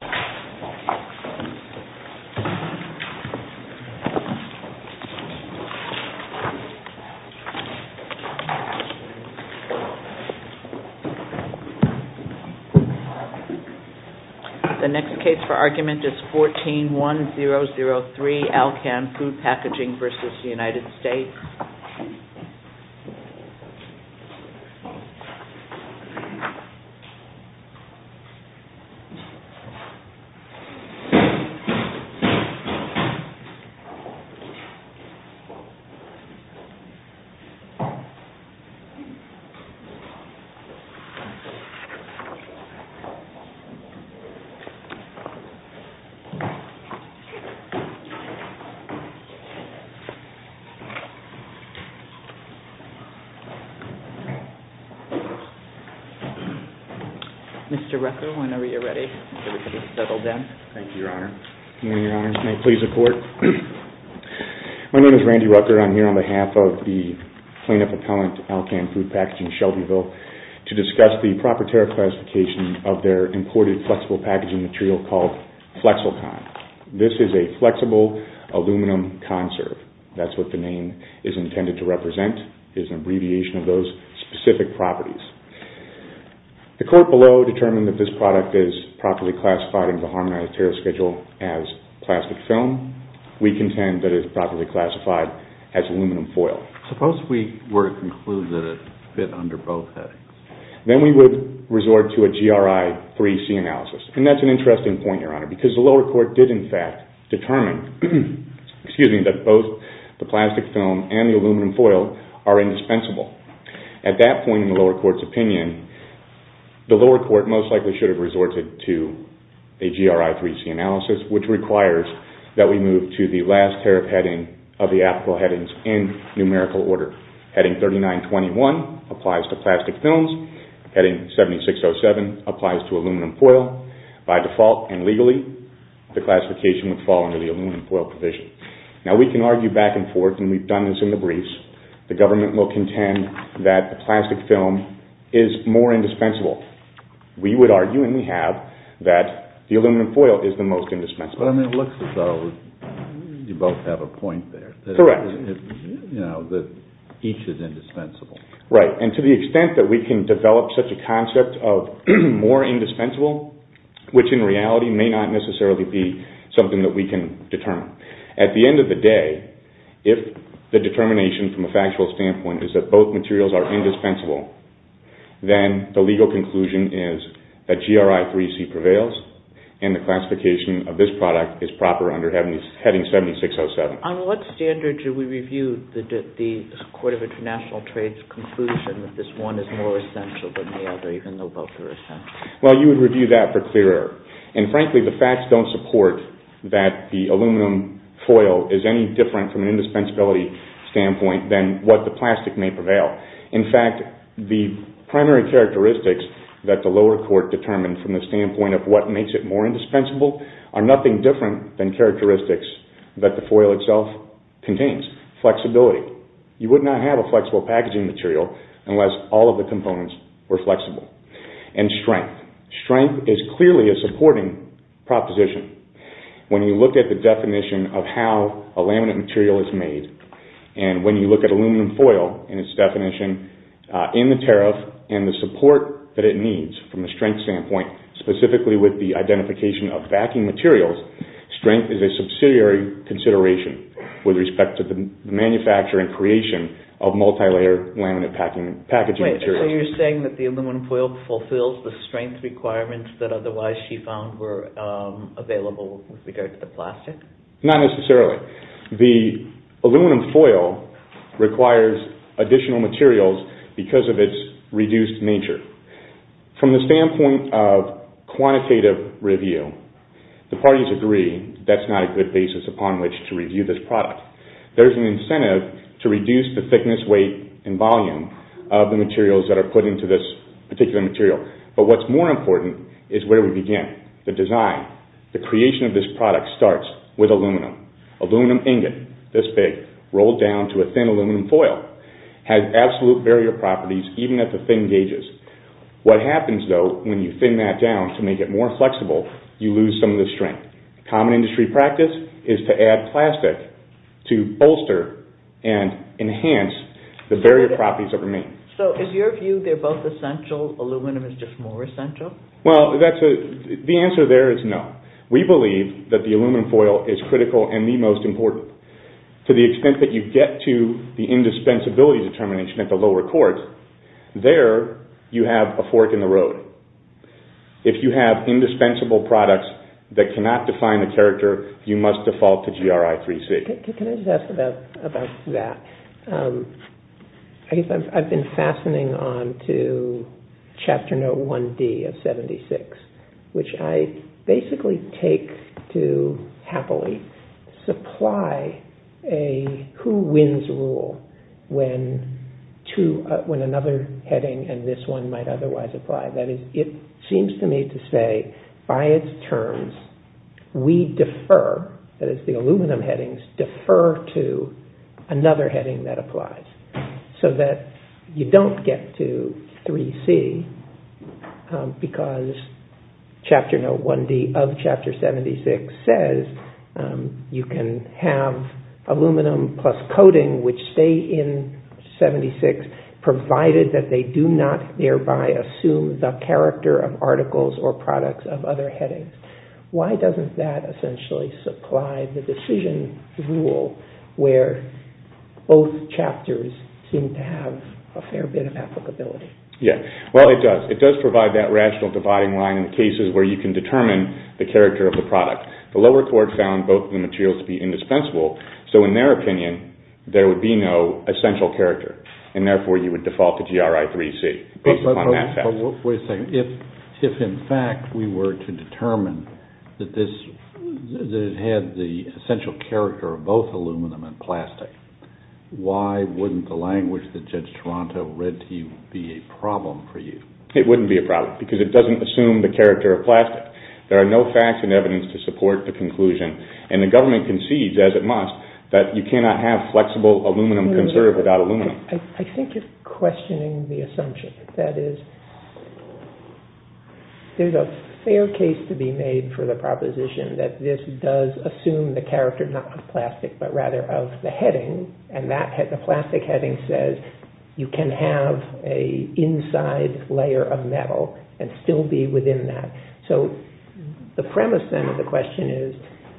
The next case for argument is 14-1003, Alcan Food Packaging v. United States. This is a case for argument 14-1003. My name is Randy Rucker and I'm here on behalf of the plaintiff appellant, Alcan Food Packaging, Shelbyville, to discuss the proper tariff classification of their imported flexible packaging material called Flexalcon. This is a flexible aluminum conserve. That's what the name is intended to represent, is an abbreviation of those specific properties. The court below determined that this product is properly classified under the Harmonized Tariff Schedule as plastic film. We contend that it is properly classified as aluminum foil. Suppose we were to conclude that it fit under both headings. Then we would resort to a GRI 3C analysis. That's an interesting point, Your Honor, because the lower court did in fact determine that both the plastic film and the aluminum foil are indispensable. At that point in the lower court's opinion, the lower court most likely should have resorted to a GRI 3C analysis, which requires that we move to the last tariff heading of the applicable headings in numerical order. Heading 3921 applies to plastic films. Heading 7607 applies to aluminum foil. By default and legally, the classification would fall under the aluminum foil provision. Now, we can argue back and forth, and we've done this in the briefs. The government will contend that the plastic film is more indispensable. We would argue, and we have, that the aluminum foil is the most indispensable. But it looks as though you both have a point there. Correct. That each is indispensable. Right, and to the extent that we can develop such a concept of more indispensable, which in reality may not necessarily be something that we can determine. At the end of the day, if the determination from a factual standpoint is that both materials are indispensable, then the legal conclusion is that GRI 3C prevails, and the classification of this product is proper under heading 7607. On what standard should we review the Court of International Trade's conclusion that this one is more essential than the other, even though both are essential? Well, you would review that for clear error. And frankly, the facts don't support that the aluminum foil is any different from an indispensability standpoint than what the plastic may prevail. In fact, the primary characteristics that the lower court determined from the standpoint of what makes it more indispensable are nothing different than characteristics that the foil itself contains. Flexibility. You would not have a flexible packaging material unless all of the components were flexible. And strength. Strength is clearly a supporting proposition. When you look at the definition of how a laminate material is made, and when you look at aluminum foil and its definition in the tariff, and the support that it needs from a strength standpoint, specifically with the identification of backing materials, strength is a subsidiary consideration with respect to the manufacture and creation of multilayer laminate packaging materials. Wait, so you're saying that the aluminum foil fulfills the strength requirements that otherwise she found were available with regard to the plastic? Not necessarily. The aluminum foil requires additional materials because of its reduced nature. From the standpoint of quantitative review, the parties agree that's not a good basis upon which to review this product. There's an incentive to reduce the thickness, weight, and volume of the materials that are put into this particular material. But what's more important is where we begin. The design. The creation of this product starts with aluminum. Aluminum ingot, this big, rolled down to a thin aluminum foil, has absolute barrier properties even at the thin gauges. What happens, though, when you thin that down to make it more flexible, you lose some of the strength. Common industry practice is to add plastic to bolster and enhance the barrier properties that remain. So is your view they're both essential, aluminum is just more essential? Well, the answer there is no. We believe that the aluminum foil is critical and the most important. To the extent that you get to the indispensability determination at the lower courts, there you have a fork in the road. If you have indispensable products that cannot define the character, you must default to GRI 3C. Can I just ask about that? I've been fastening on to Chapter Note 1D of 76, which I basically take to happily supply a who-wins-rule when another heading and this one might otherwise apply. That is, it seems to me to say, by its terms, we defer, that is the aluminum headings, defer to another heading that applies. So that you don't get to 3C because Chapter Note 1D of Chapter 76 says you can have aluminum plus coating which stay in 76 provided that they do not thereby assume the character of articles or products of other headings. Why doesn't that essentially supply the decision rule where both chapters seem to have a fair bit of applicability? Well, it does. It does provide that rational dividing line in the cases where you can determine the character of the product. The lower court found both of the materials to be indispensable, so in their opinion, there would be no essential character, and therefore you would default to GRI 3C based upon that fact. Wait a second. If in fact we were to determine that it had the essential character of both aluminum and plastic, why wouldn't the language that Judge Toronto read to you be a problem for you? It wouldn't be a problem because it doesn't assume the character of plastic. There are no facts and evidence to support the conclusion, and the government concedes, as it must, that you cannot have flexible aluminum conserve without aluminum. I think you're questioning the assumption. There's a fair case to be made for the proposition that this does assume the character not of plastic, but rather of the heading, and the plastic heading says you can have an inside layer of metal and still be within that. So the premise then of the question is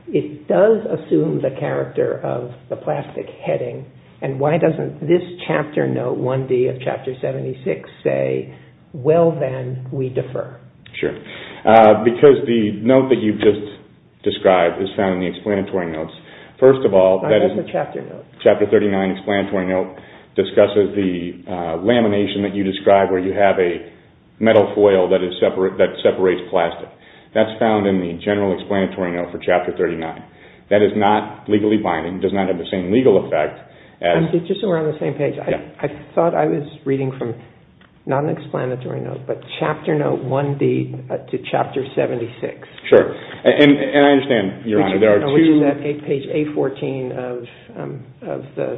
it does assume the character of the plastic heading, and why doesn't this chapter note, 1D of Chapter 76, say, well then, we defer? Sure. Because the note that you just described is found in the explanatory notes. First of all, Chapter 39 explanatory note discusses the lamination that you described where you have a metal foil that separates plastic. That's found in the general explanatory note for Chapter 39. That is not legally binding. It does not have the same legal effect. Just so we're on the same page. I thought I was reading from not an explanatory note, but Chapter Note 1D to Chapter 76. Sure. And I understand, Your Honor, there are two. We use that page A14 of the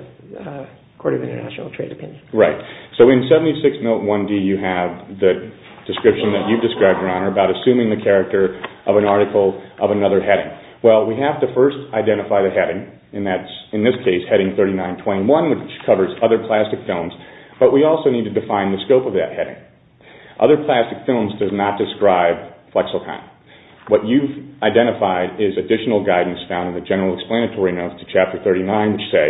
Court of International Trade Opinion. Right. So in 76 Note 1D you have the description that you've described, Your Honor, about assuming the character of an article of another heading. Well, we have to first identify the heading. And that's, in this case, Heading 3921, which covers other plastic films. But we also need to define the scope of that heading. Other plastic films does not describe flexicon. What you've identified is additional guidance found in the general explanatory notes to Chapter 39, which say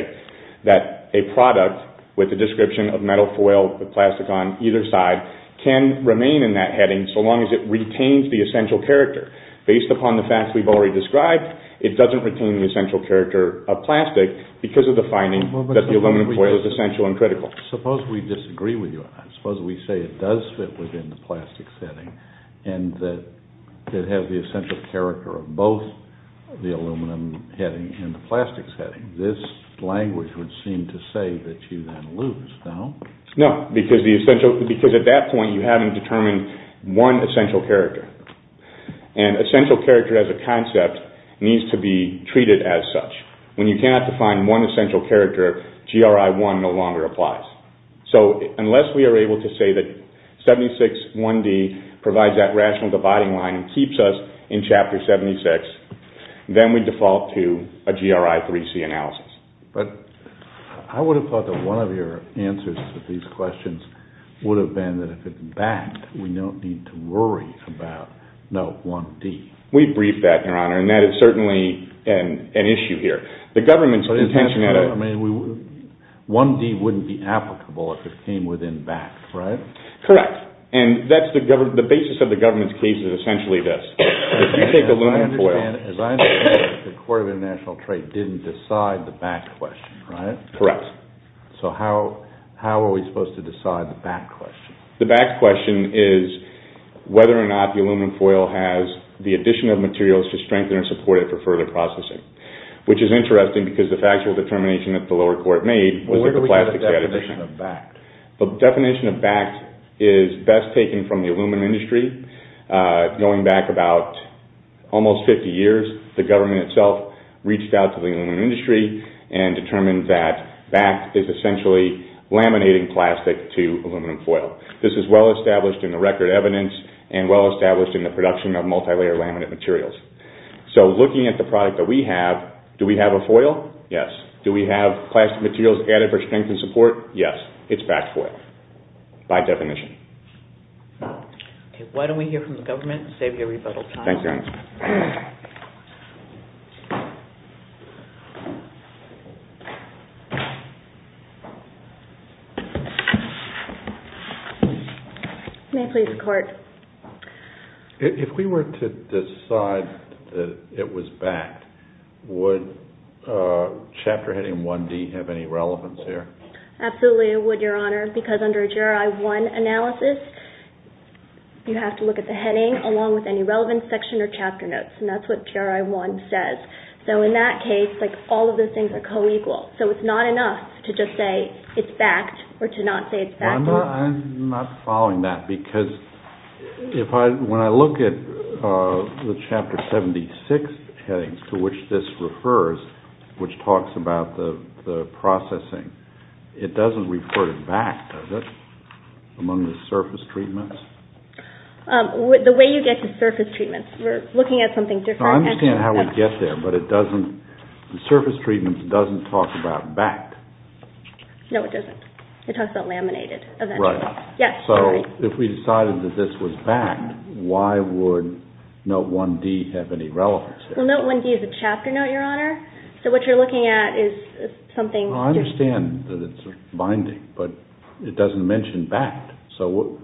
that a product with a description of metal foil with plastic on either side can remain in that heading so long as it retains the essential character. Based upon the facts we've already described, it doesn't retain the essential character of plastic because of the finding that the aluminum foil is essential and critical. Suppose we disagree with you on that. Suppose we say it does fit within the plastic setting and that it has the essential character of both the aluminum heading and the plastic setting. This language would seem to say that you then lose. No? No, because at that point you haven't determined one essential character. And essential character as a concept needs to be treated as such. When you cannot define one essential character, GRI 1 no longer applies. So unless we are able to say that 76 1D provides that rational dividing line and keeps us in Chapter 76, then we default to a GRI 3C analysis. But I would have thought that one of your answers to these questions would have been that if it's backed, we don't need to worry about no 1D. We've briefed that, Your Honor, and that is certainly an issue here. The government's intention at a— But isn't that what I mean? 1D wouldn't be applicable if it came within BAC, right? Correct. And that's the basis of the government's case is essentially this. If you take aluminum foil— As I understand it, the Court of International Trade didn't decide the BAC question, right? Correct. So how are we supposed to decide the BAC question? The BAC question is whether or not the aluminum foil has the addition of materials to strengthen or support it for further processing, which is interesting because the factual determination that the lower court made was that the plastic— Well, where do we get the definition of BAC? The definition of BAC is best taken from the aluminum industry. Going back about almost 50 years, the government itself reached out to the aluminum industry and determined that BAC is essentially laminating plastic to aluminum foil. This is well established in the record evidence and well established in the production of multilayer laminate materials. So looking at the product that we have, do we have a foil? Yes. Do we have plastic materials added for strength and support? Yes. It's BAC foil by definition. Okay. Why don't we hear from the government and save you a rebuttal time? Thank you, Your Honor. May I please report? If we were to decide that it was BAC, would Chapter Heading 1D have any relevance here? Absolutely, it would, Your Honor, because under a GRI-1 analysis, you have to look at the heading along with any relevant section or chapter notes, and that's what GRI-1 says. So in that case, like all of this information, so it's not enough to just say it's BAC-ed or to not say it's BAC-ed. I'm not following that, because when I look at the Chapter 76 headings to which this refers, which talks about the processing, it doesn't refer to BAC, does it, among the surface treatments? The way you get to surface treatments, we're looking at something different. I understand how we get there, but the surface treatment doesn't talk about BAC-ed. No, it doesn't. It talks about laminated eventually. So if we decided that this was BAC-ed, why would Note 1D have any relevance here? Well, Note 1D is a chapter note, Your Honor, so what you're looking at is something... I understand that it's binding, but it doesn't mention BAC-ed. So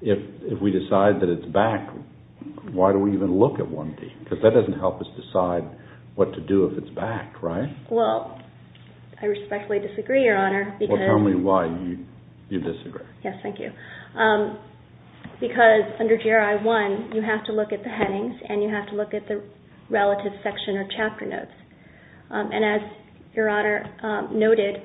if we decide that it's BAC-ed, why do we even look at 1D? Because that doesn't help us decide what to do if it's BAC-ed, right? Well, I respectfully disagree, Your Honor, because... Well, tell me why you disagree. Yes, thank you. Because under GRI 1, you have to look at the headings and you have to look at the relative section or chapter notes. And as Your Honor noted,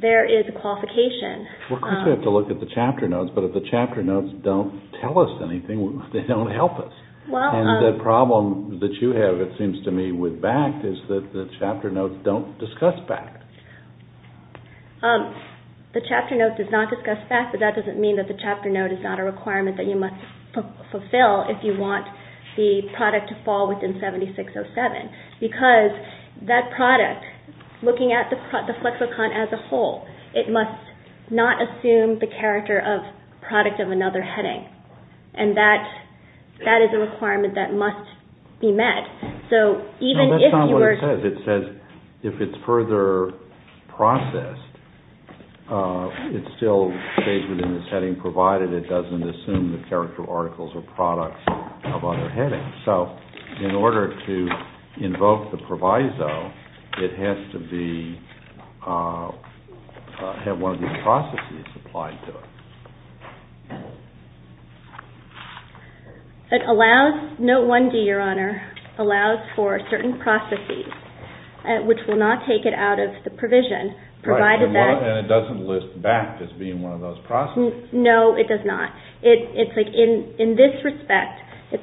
there is a qualification. Well, of course we have to look at the chapter notes, but if the chapter notes don't tell us anything, they don't help us. And the problem that you have, it seems to me, with BAC-ed is that the chapter notes don't discuss BAC-ed. The chapter note does not discuss BAC-ed, but that doesn't mean that the chapter note is not a requirement that you must fulfill if you want the product to fall within 7607. Because that product, looking at the Flexicon as a whole, it must not assume the character of product of another heading. And that is a requirement that must be met. So even if you are... No, that's not what it says. It says if it's further processed, it still stays within this heading provided it doesn't assume the character of articles or products of other headings. So in order to invoke the proviso, it has to have one of these processes applied to it. Note 1-D, Your Honor, allows for certain processes which will not take it out of the provision provided that... And it doesn't list BAC as being one of those processes. No, it does not. It's like in this respect, this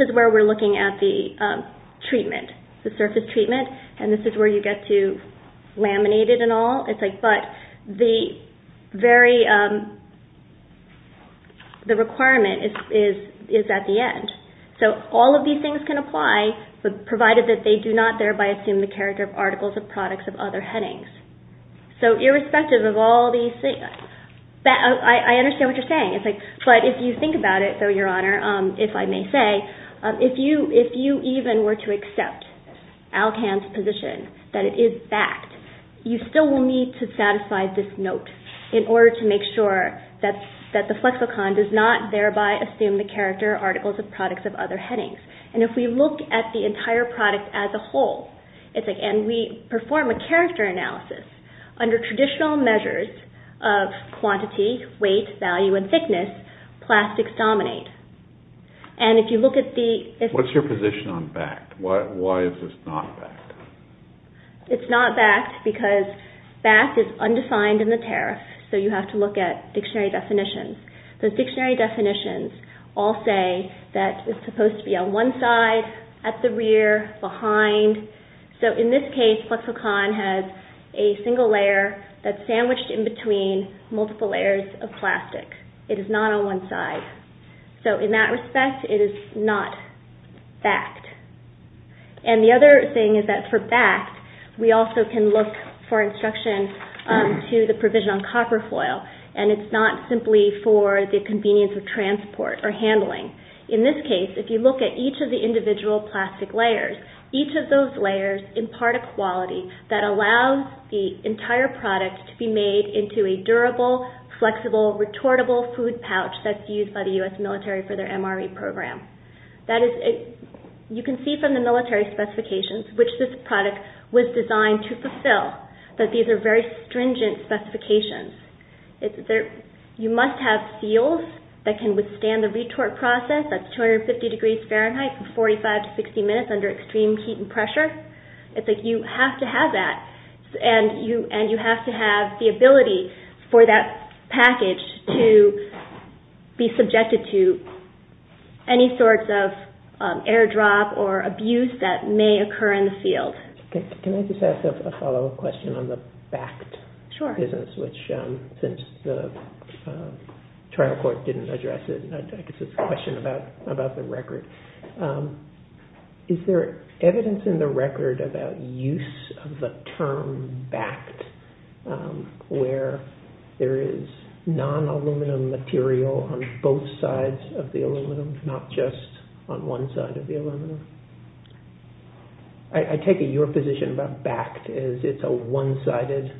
is where we're looking at the treatment, the surface treatment, and this is where you get to laminate it and all. But the requirement is at the end. So all of these things can apply provided that they do not thereby assume the character of articles or products of other headings. So irrespective of all these things... I understand what you're saying. But if you think about it, though, Your Honor, if I may say, if you even were to accept ALCAN's position that it is BAC, you still will need to satisfy this note in order to make sure that the Flexicon does not thereby assume the character articles of products of other headings. And if we look at the entire product as a whole, and we perform a character analysis, under traditional measures of quantity, weight, value, and thickness, plastics dominate. And if you look at the... What's your position on BAC? Why is this not BAC? It's not BAC because BAC is undefined in the tariff. So you have to look at dictionary definitions. Those dictionary definitions all say that it's supposed to be on one side, at the rear, behind. So in this case, Flexicon has a single layer that's sandwiched in between multiple layers of plastic. It is not on one side. So in that respect, it is not BAC. And the other thing is that for BAC, we also can look for instruction to the provision on copper foil, and it's not simply for the convenience of transport or handling. In this case, if you look at each of the individual plastic layers, each of those layers impart a quality that allows the entire product to be made into a durable, flexible, retortable food pouch that's used by the U.S. military for their MRE program. You can see from the military specifications, which this product was designed to fulfill, that these are very stringent specifications. You must have seals that can withstand the retort process at 250 degrees Fahrenheit for 45 to 60 minutes under extreme heat and pressure. It's like you have to have that, and you have to have the ability for that package to be subjected to any sorts of airdrop or abuse that may occur in the field. Can I just ask a follow-up question on the BACT business, which since the trial court didn't address it, I guess it's a question about the record. Is there evidence in the record about use of the term BACT where there is non-aluminum material on both sides of the aluminum, not just on one side of the aluminum? I take it your position about BACT is it's a one-sided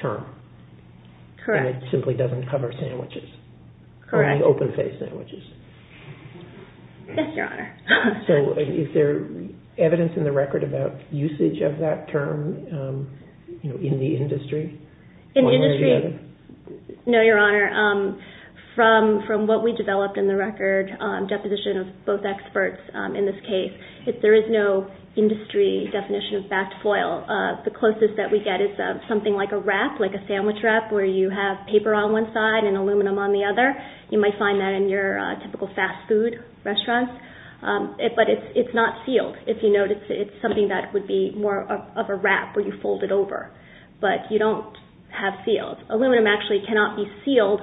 term. Correct. And it simply doesn't cover sandwiches. Correct. Only open-faced sandwiches. Yes, Your Honor. So is there evidence in the record about usage of that term in the industry? In the industry, no, Your Honor. From what we developed in the record, deposition of both experts in this case, there is no industry definition of BACT foil. The closest that we get is something like a wrap, like a sandwich wrap where you have paper on one side and aluminum on the other. You might find that in your typical fast food restaurant, but it's not sealed. If you notice, it's something that would be more of a wrap where you fold it over, but you don't have seals. Aluminum actually cannot be sealed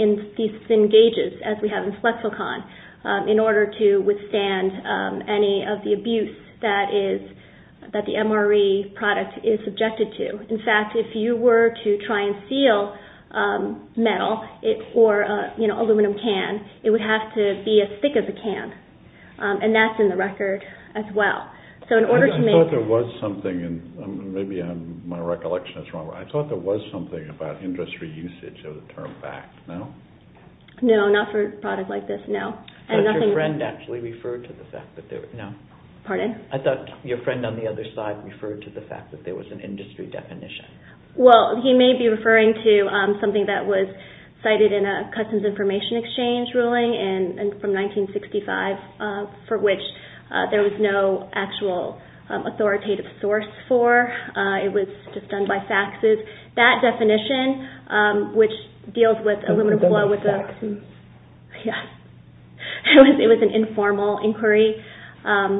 in these thin gauges, as we have in Flexicon, in order to withstand any of the abuse that the MRE product is subjected to. In fact, if you were to try and seal metal or an aluminum can, it would have to be as thick as a can, and that's in the record as well. I thought there was something, and maybe my recollection is wrong, but I thought there was something about industry usage of the term BACT, no? No, not for a product like this, no. I thought your friend on the other side referred to the fact that there was an industry definition. Well, he may be referring to something that was cited in a Customs Information Exchange ruling from 1965, for which there was no actual authoritative source for. It was just done by faxes. That definition, which deals with aluminum foil, It was done by faxes? Yes. It was an informal inquiry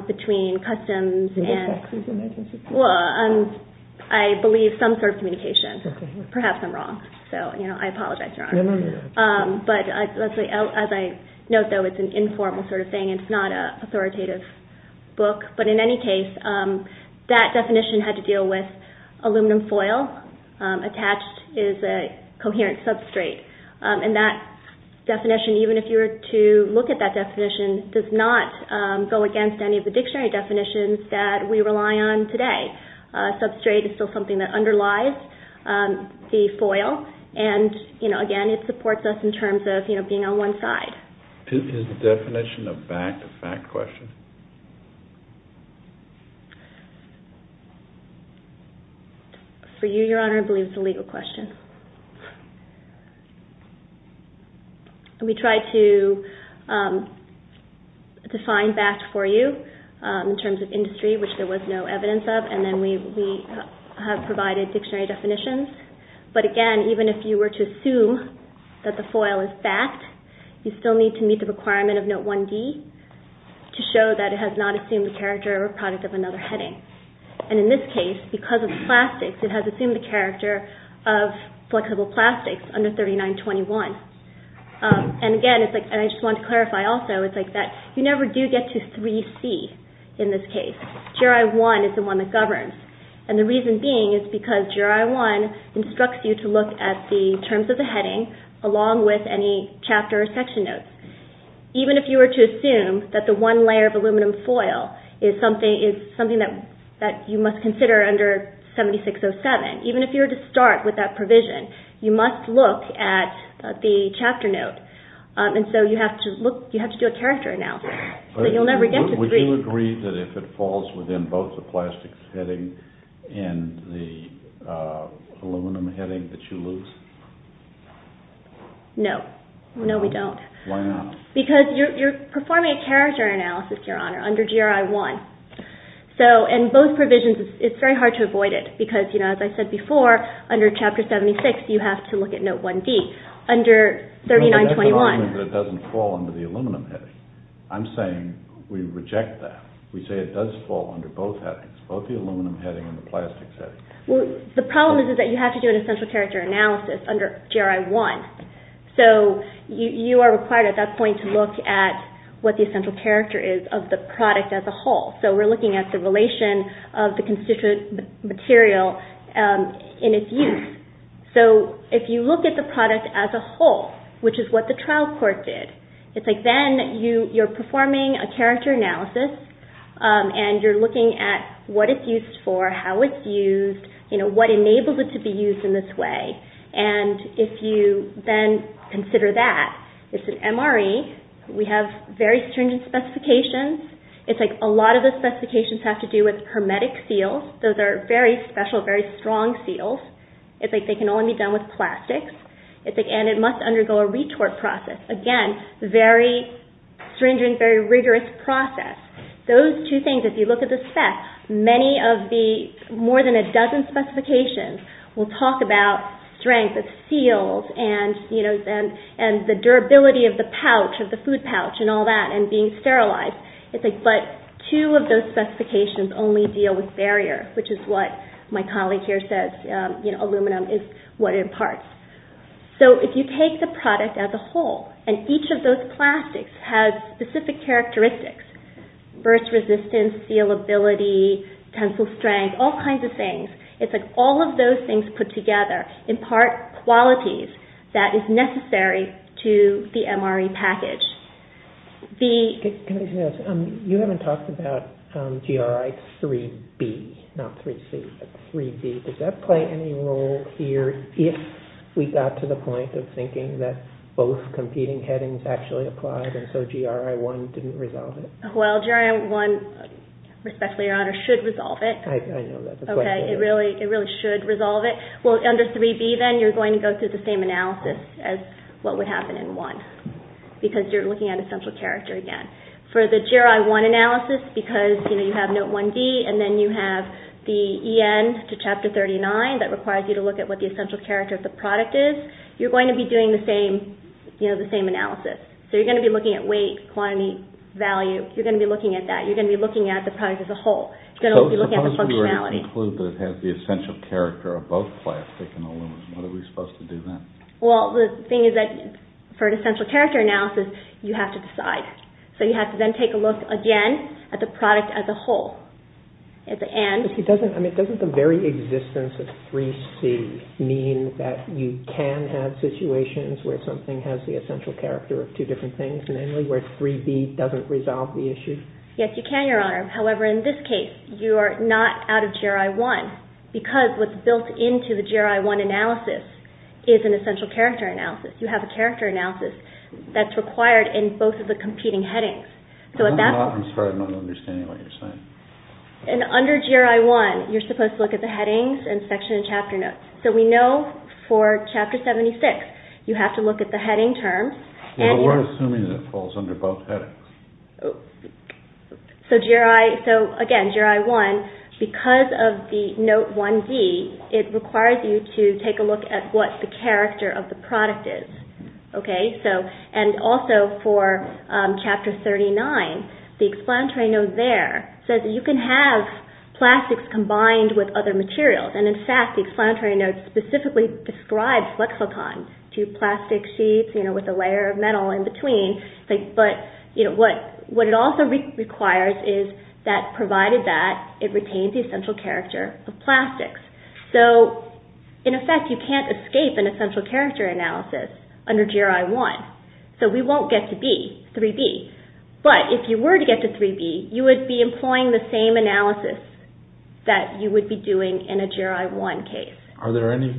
between Customs and It was faxes in 1965? Well, I believe some sort of communication. Perhaps I'm wrong, so I apologize, Your Honor. As I note, though, it's an informal sort of thing. It's not an authoritative book. But in any case, that definition had to deal with aluminum foil attached as a coherent substrate. And that definition, even if you were to look at that definition, does not go against any of the dictionary definitions that we rely on today. Substrate is still something that underlies the foil. And, again, it supports us in terms of being on one side. Is the definition of fact a fact question? For you, Your Honor, I believe it's a legal question. We tried to define fact for you in terms of industry, which there was no evidence of, and then we have provided dictionary definitions. But, again, even if you were to assume that the foil is fact, you still need to meet the requirement of Note 1D to show that it has not assumed the character or product of another heading. And in this case, because of plastics, it has assumed the character of flexible plastics under 3921. And, again, I just wanted to clarify also that you never do get to 3C in this case. GRI 1 is the one that governs. And the reason being is because GRI 1 instructs you to look at the terms of the heading along with any chapter or section notes. Even if you were to assume that the one layer of aluminum foil is something that you must consider under 7607, even if you were to start with that provision, you must look at the chapter note. And so you have to do a character analysis. But you'll never get to 3C. Would you agree that if it falls within both the plastics heading and the aluminum heading that you lose? No. No, we don't. Why not? Because you're performing a character analysis, Your Honor, under GRI 1. So in both provisions, it's very hard to avoid it because, as I said before, under Chapter 76, you have to look at Note 1D. Under 3921... But that doesn't mean that it doesn't fall under the aluminum heading. I'm saying we reject that. We say it does fall under both headings, both the aluminum heading and the plastics heading. The problem is that you have to do an essential character analysis under GRI 1. So you are required at that point to look at what the essential character is of the product as a whole. So we're looking at the relation of the constituent material in its use. So if you look at the product as a whole, which is what the trial court did, it's like then you're performing a character analysis and you're looking at what it's used for, how it's used, what enables it to be used in this way. And if you then consider that it's an MRE, we have very stringent specifications. It's like a lot of the specifications have to do with hermetic seals. Those are very special, very strong seals. They can only be done with plastics. And it must undergo a retort process. Again, very stringent, very rigorous process. Those two things, if you look at the specs, many of the more than a dozen specifications will talk about strength of seals and the durability of the pouch, of the food pouch and all that, and being sterilized. But two of those specifications only deal with barrier, which is what my colleague here says, aluminum is what it imparts. So if you take the product as a whole, and each of those plastics has specific characteristics, burst resistance, sealability, tensile strength, all kinds of things, it's like all of those things put together impart qualities that is necessary to the MRE package. Can I just add something? You haven't talked about GRI 3B, not 3C, but 3B. Does that play any role here if we got to the point of thinking that both competing headings actually applied and so GRI 1 didn't resolve it? Well, GRI 1, respectfully, Your Honor, should resolve it. I know that. Okay, it really should resolve it. Well, under 3B then, you're going to go through the same analysis as what would happen in 1, because you're looking at essential character again. For the GRI 1 analysis, because you have Note 1D and then you have the EN to Chapter 39 that requires you to look at what the essential character of the product is, you're going to be doing the same analysis. So you're going to be looking at weight, quantity, value. You're going to be looking at that. You're going to be looking at the product as a whole. You're going to be looking at the functionality. Suppose we were to conclude that it has the essential character of both plastic and aluminum. What are we supposed to do then? Well, the thing is that for an essential character analysis, you have to decide. So you have to then take a look again at the product as a whole. At the end. But doesn't the very existence of 3C mean that you can have situations where something has the essential character of two different things, namely where 3B doesn't resolve the issue? Yes, you can, Your Honor. However, in this case, you are not out of GRI 1 because what's built into the GRI 1 analysis is an essential character analysis. You have a character analysis that's required in both of the competing headings. I'm sorry, I'm not understanding what you're saying. And under GRI 1, you're supposed to look at the headings and section and chapter notes. So we know for Chapter 76, you have to look at the heading terms. We're assuming it falls under both headings. So again, GRI 1, because of the Note 1D, it requires you to take a look at what the character of the product is. And also for Chapter 39, the explanatory note there says you can have plastics combined with other materials. And in fact, the explanatory note specifically describes Lexicon, two plastic sheets with a layer of metal in between. But what it also requires is that provided that, it retains the essential character of plastics. So in effect, you can't escape an essential character analysis under GRI 1. So we won't get to B, 3B. But if you were to get to 3B, you would be employing the same analysis that you would be doing in a GRI 1 case. Are there any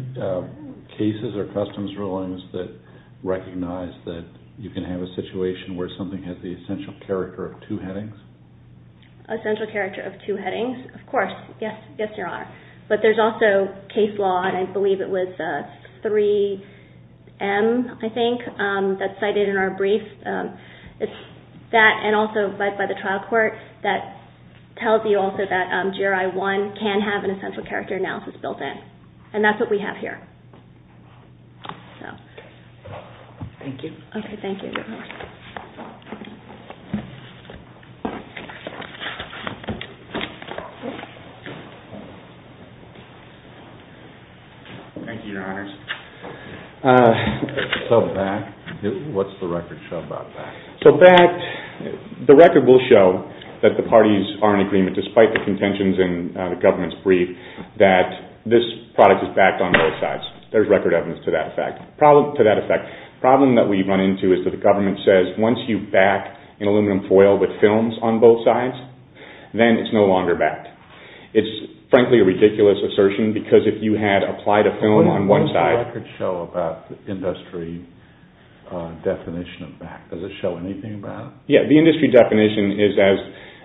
cases or customs rulings that recognize that you can have a situation where something has the essential character of two headings? Essential character of two headings? Of course. Yes, Your Honor. But there's also case law, and I believe it was 3M, I think, that's cited in our brief. It's that and also led by the trial court that tells you also that GRI 1 can have an essential character analysis built in. And that's what we have here. No. Thank you. Okay, thank you. Thank you, Your Honors. So BACT, what's the record show about BACT? So BACT, the record will show that the parties are in agreement, despite the contentions in the government's brief, that this product is backed on both sides. There's record evidence to that effect. The problem that we run into is that the government says, once you back an aluminum foil with films on both sides, then it's no longer BACT. It's, frankly, a ridiculous assertion, because if you had applied a film on one side... What does the record show about the industry definition of BACT? Does it show anything about it? Yeah, the industry definition is, as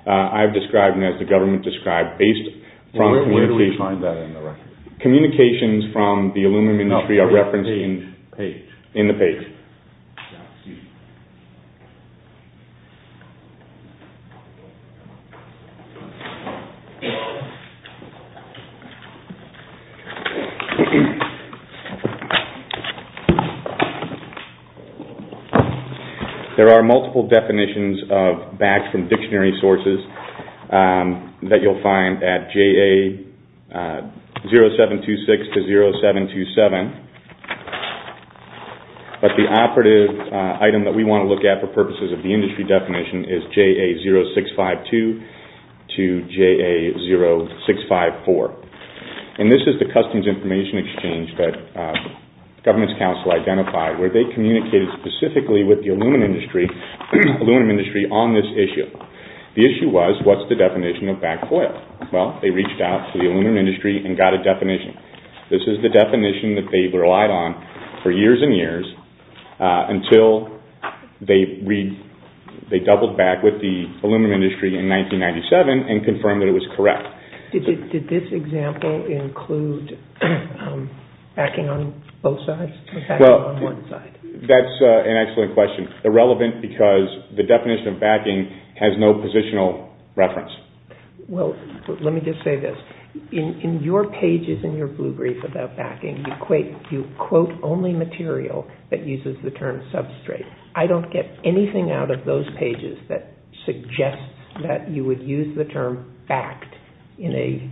I've described and as the government described, based from... Where do we find that in the record? Communications from the aluminum industry are referenced in the page. There are multiple definitions of BACT from dictionary sources. That you'll find at JA 0726 to 0727. But the operative item that we want to look at for purposes of the industry definition is JA 0652 to JA 0654. And this is the customs information exchange that the government's council identified, where they communicated specifically with the aluminum industry on this issue. The issue was, what's the definition of BACT foil? Well, they reached out to the aluminum industry and got a definition. This is the definition that they've relied on for years and years until they doubled back with the aluminum industry in 1997 and confirmed that it was correct. Did this example include backing on both sides or backing on one side? That's an excellent question. They're relevant because the definition of backing has no positional reference. Well, let me just say this. In your pages in your blue brief about backing, you quote only material that uses the term substrate. I don't get anything out of those pages that suggests that you would use the term BACT in a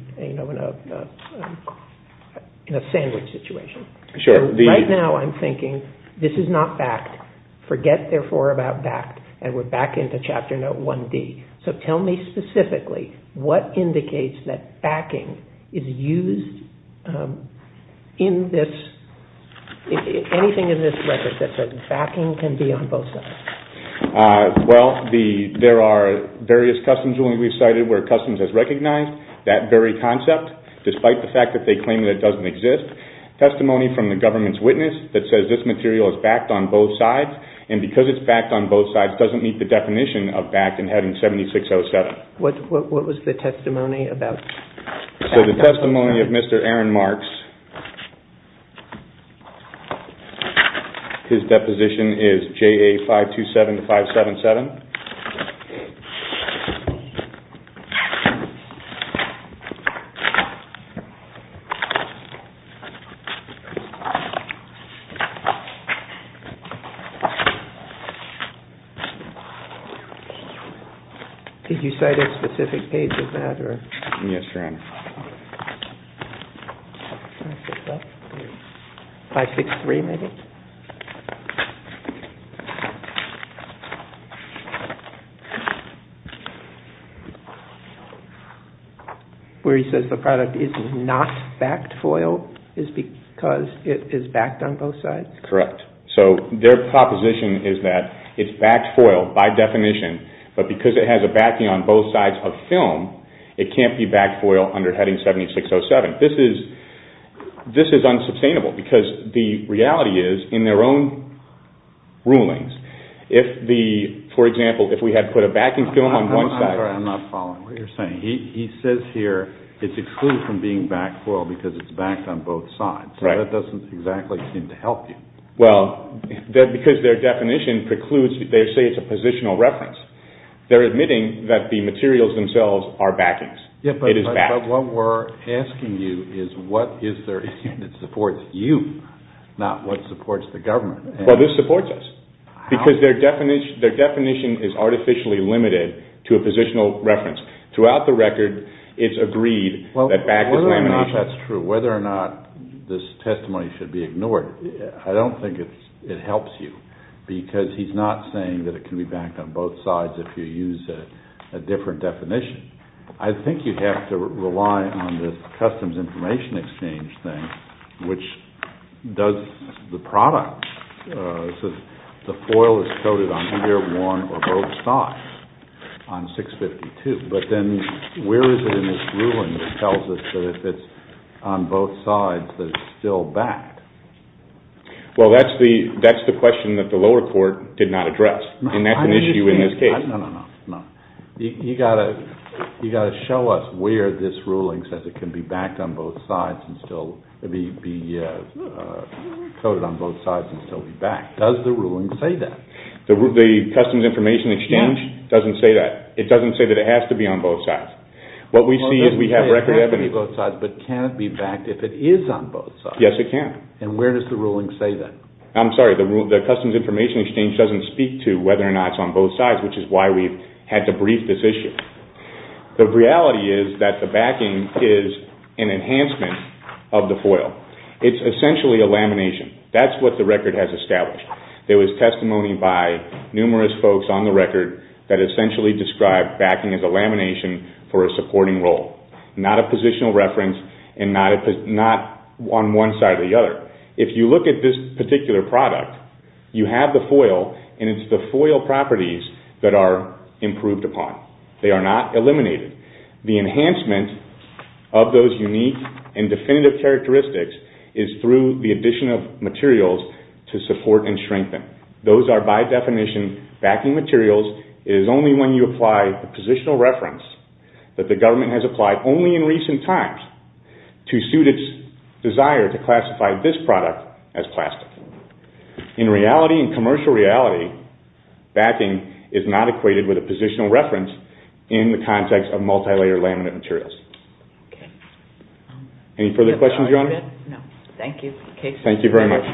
sandwich situation. So right now I'm thinking, this is not BACT. Forget, therefore, about BACT, and we're back into Chapter Note 1D. So tell me specifically what indicates that backing is used in this, anything in this record that says backing can be on both sides. Well, there are various customs rulings we've cited where customs has recognized that very concept, despite the fact that they claim that it doesn't exist. Testimony from the government's witness that says this material is backed on both sides, and because it's backed on both sides, doesn't meet the definition of BACT in Heading 7607. What was the testimony about? So the testimony of Mr. Aaron Marks, his deposition is JA 527-577. Did you cite a specific page of that? Yes, Your Honor. 563, maybe? 563. 563. Where he says the product is not backed foil is because it is backed on both sides? Correct. So their proposition is that it's backed foil by definition, but because it has a backing on both sides of film, it can't be backed foil under Heading 7607. This is unsustainable, because the reality is, in their own rulings, if the, for example, if we had put a backing film on one side. I'm sorry, I'm not following what you're saying. He says here it's excluded from being backed foil because it's backed on both sides. So that doesn't exactly seem to help you. Well, because their definition precludes, they say it's a positional reference. They're admitting that the materials themselves are backings. It is backed. But what we're asking you is what is there that supports you, not what supports the government. Well, this supports us. Because their definition is artificially limited to a positional reference. Throughout the record, it's agreed that back is lamination. Whether or not that's true, whether or not this testimony should be ignored, I don't think it helps you, because he's not saying that it can be backed on both sides if you use a different definition. I think you'd have to rely on this customs information exchange thing, which does the product. It says the foil is coated on either one or both sides on 652. But then where is it in this ruling that tells us that if it's on both sides that it's still backed? Well, that's the question that the lower court did not address, and that's an issue in this case. You've got to show us where this ruling says it can be coated on both sides and still be backed. Does the ruling say that? The customs information exchange doesn't say that. It doesn't say that it has to be on both sides. What we see is we have record evidence. It can't be both sides, but can it be backed if it is on both sides? Yes, it can. And where does the ruling say that? I'm sorry. The customs information exchange doesn't speak to whether or not it's on both sides, which is why we've had to brief this issue. The reality is that the backing is an enhancement of the foil. It's essentially a lamination. That's what the record has established. There was testimony by numerous folks on the record that essentially described backing as a lamination for a supporting role, not a positional reference and not on one side or the other. If you look at this particular product, you have the foil and it's the foil properties that are improved upon. They are not eliminated. The enhancement of those unique and definitive characteristics is through the addition of materials to support and strengthen. Those are by definition backing materials. It is only when you apply a positional reference that the government has applied only in recent times to suit its desire to classify this product as plastic. In reality, in commercial reality, backing is not equated with a positional reference in the context of multilayer laminate materials. Okay. Any further questions, Your Honor? No. Thank you. Thank you very much.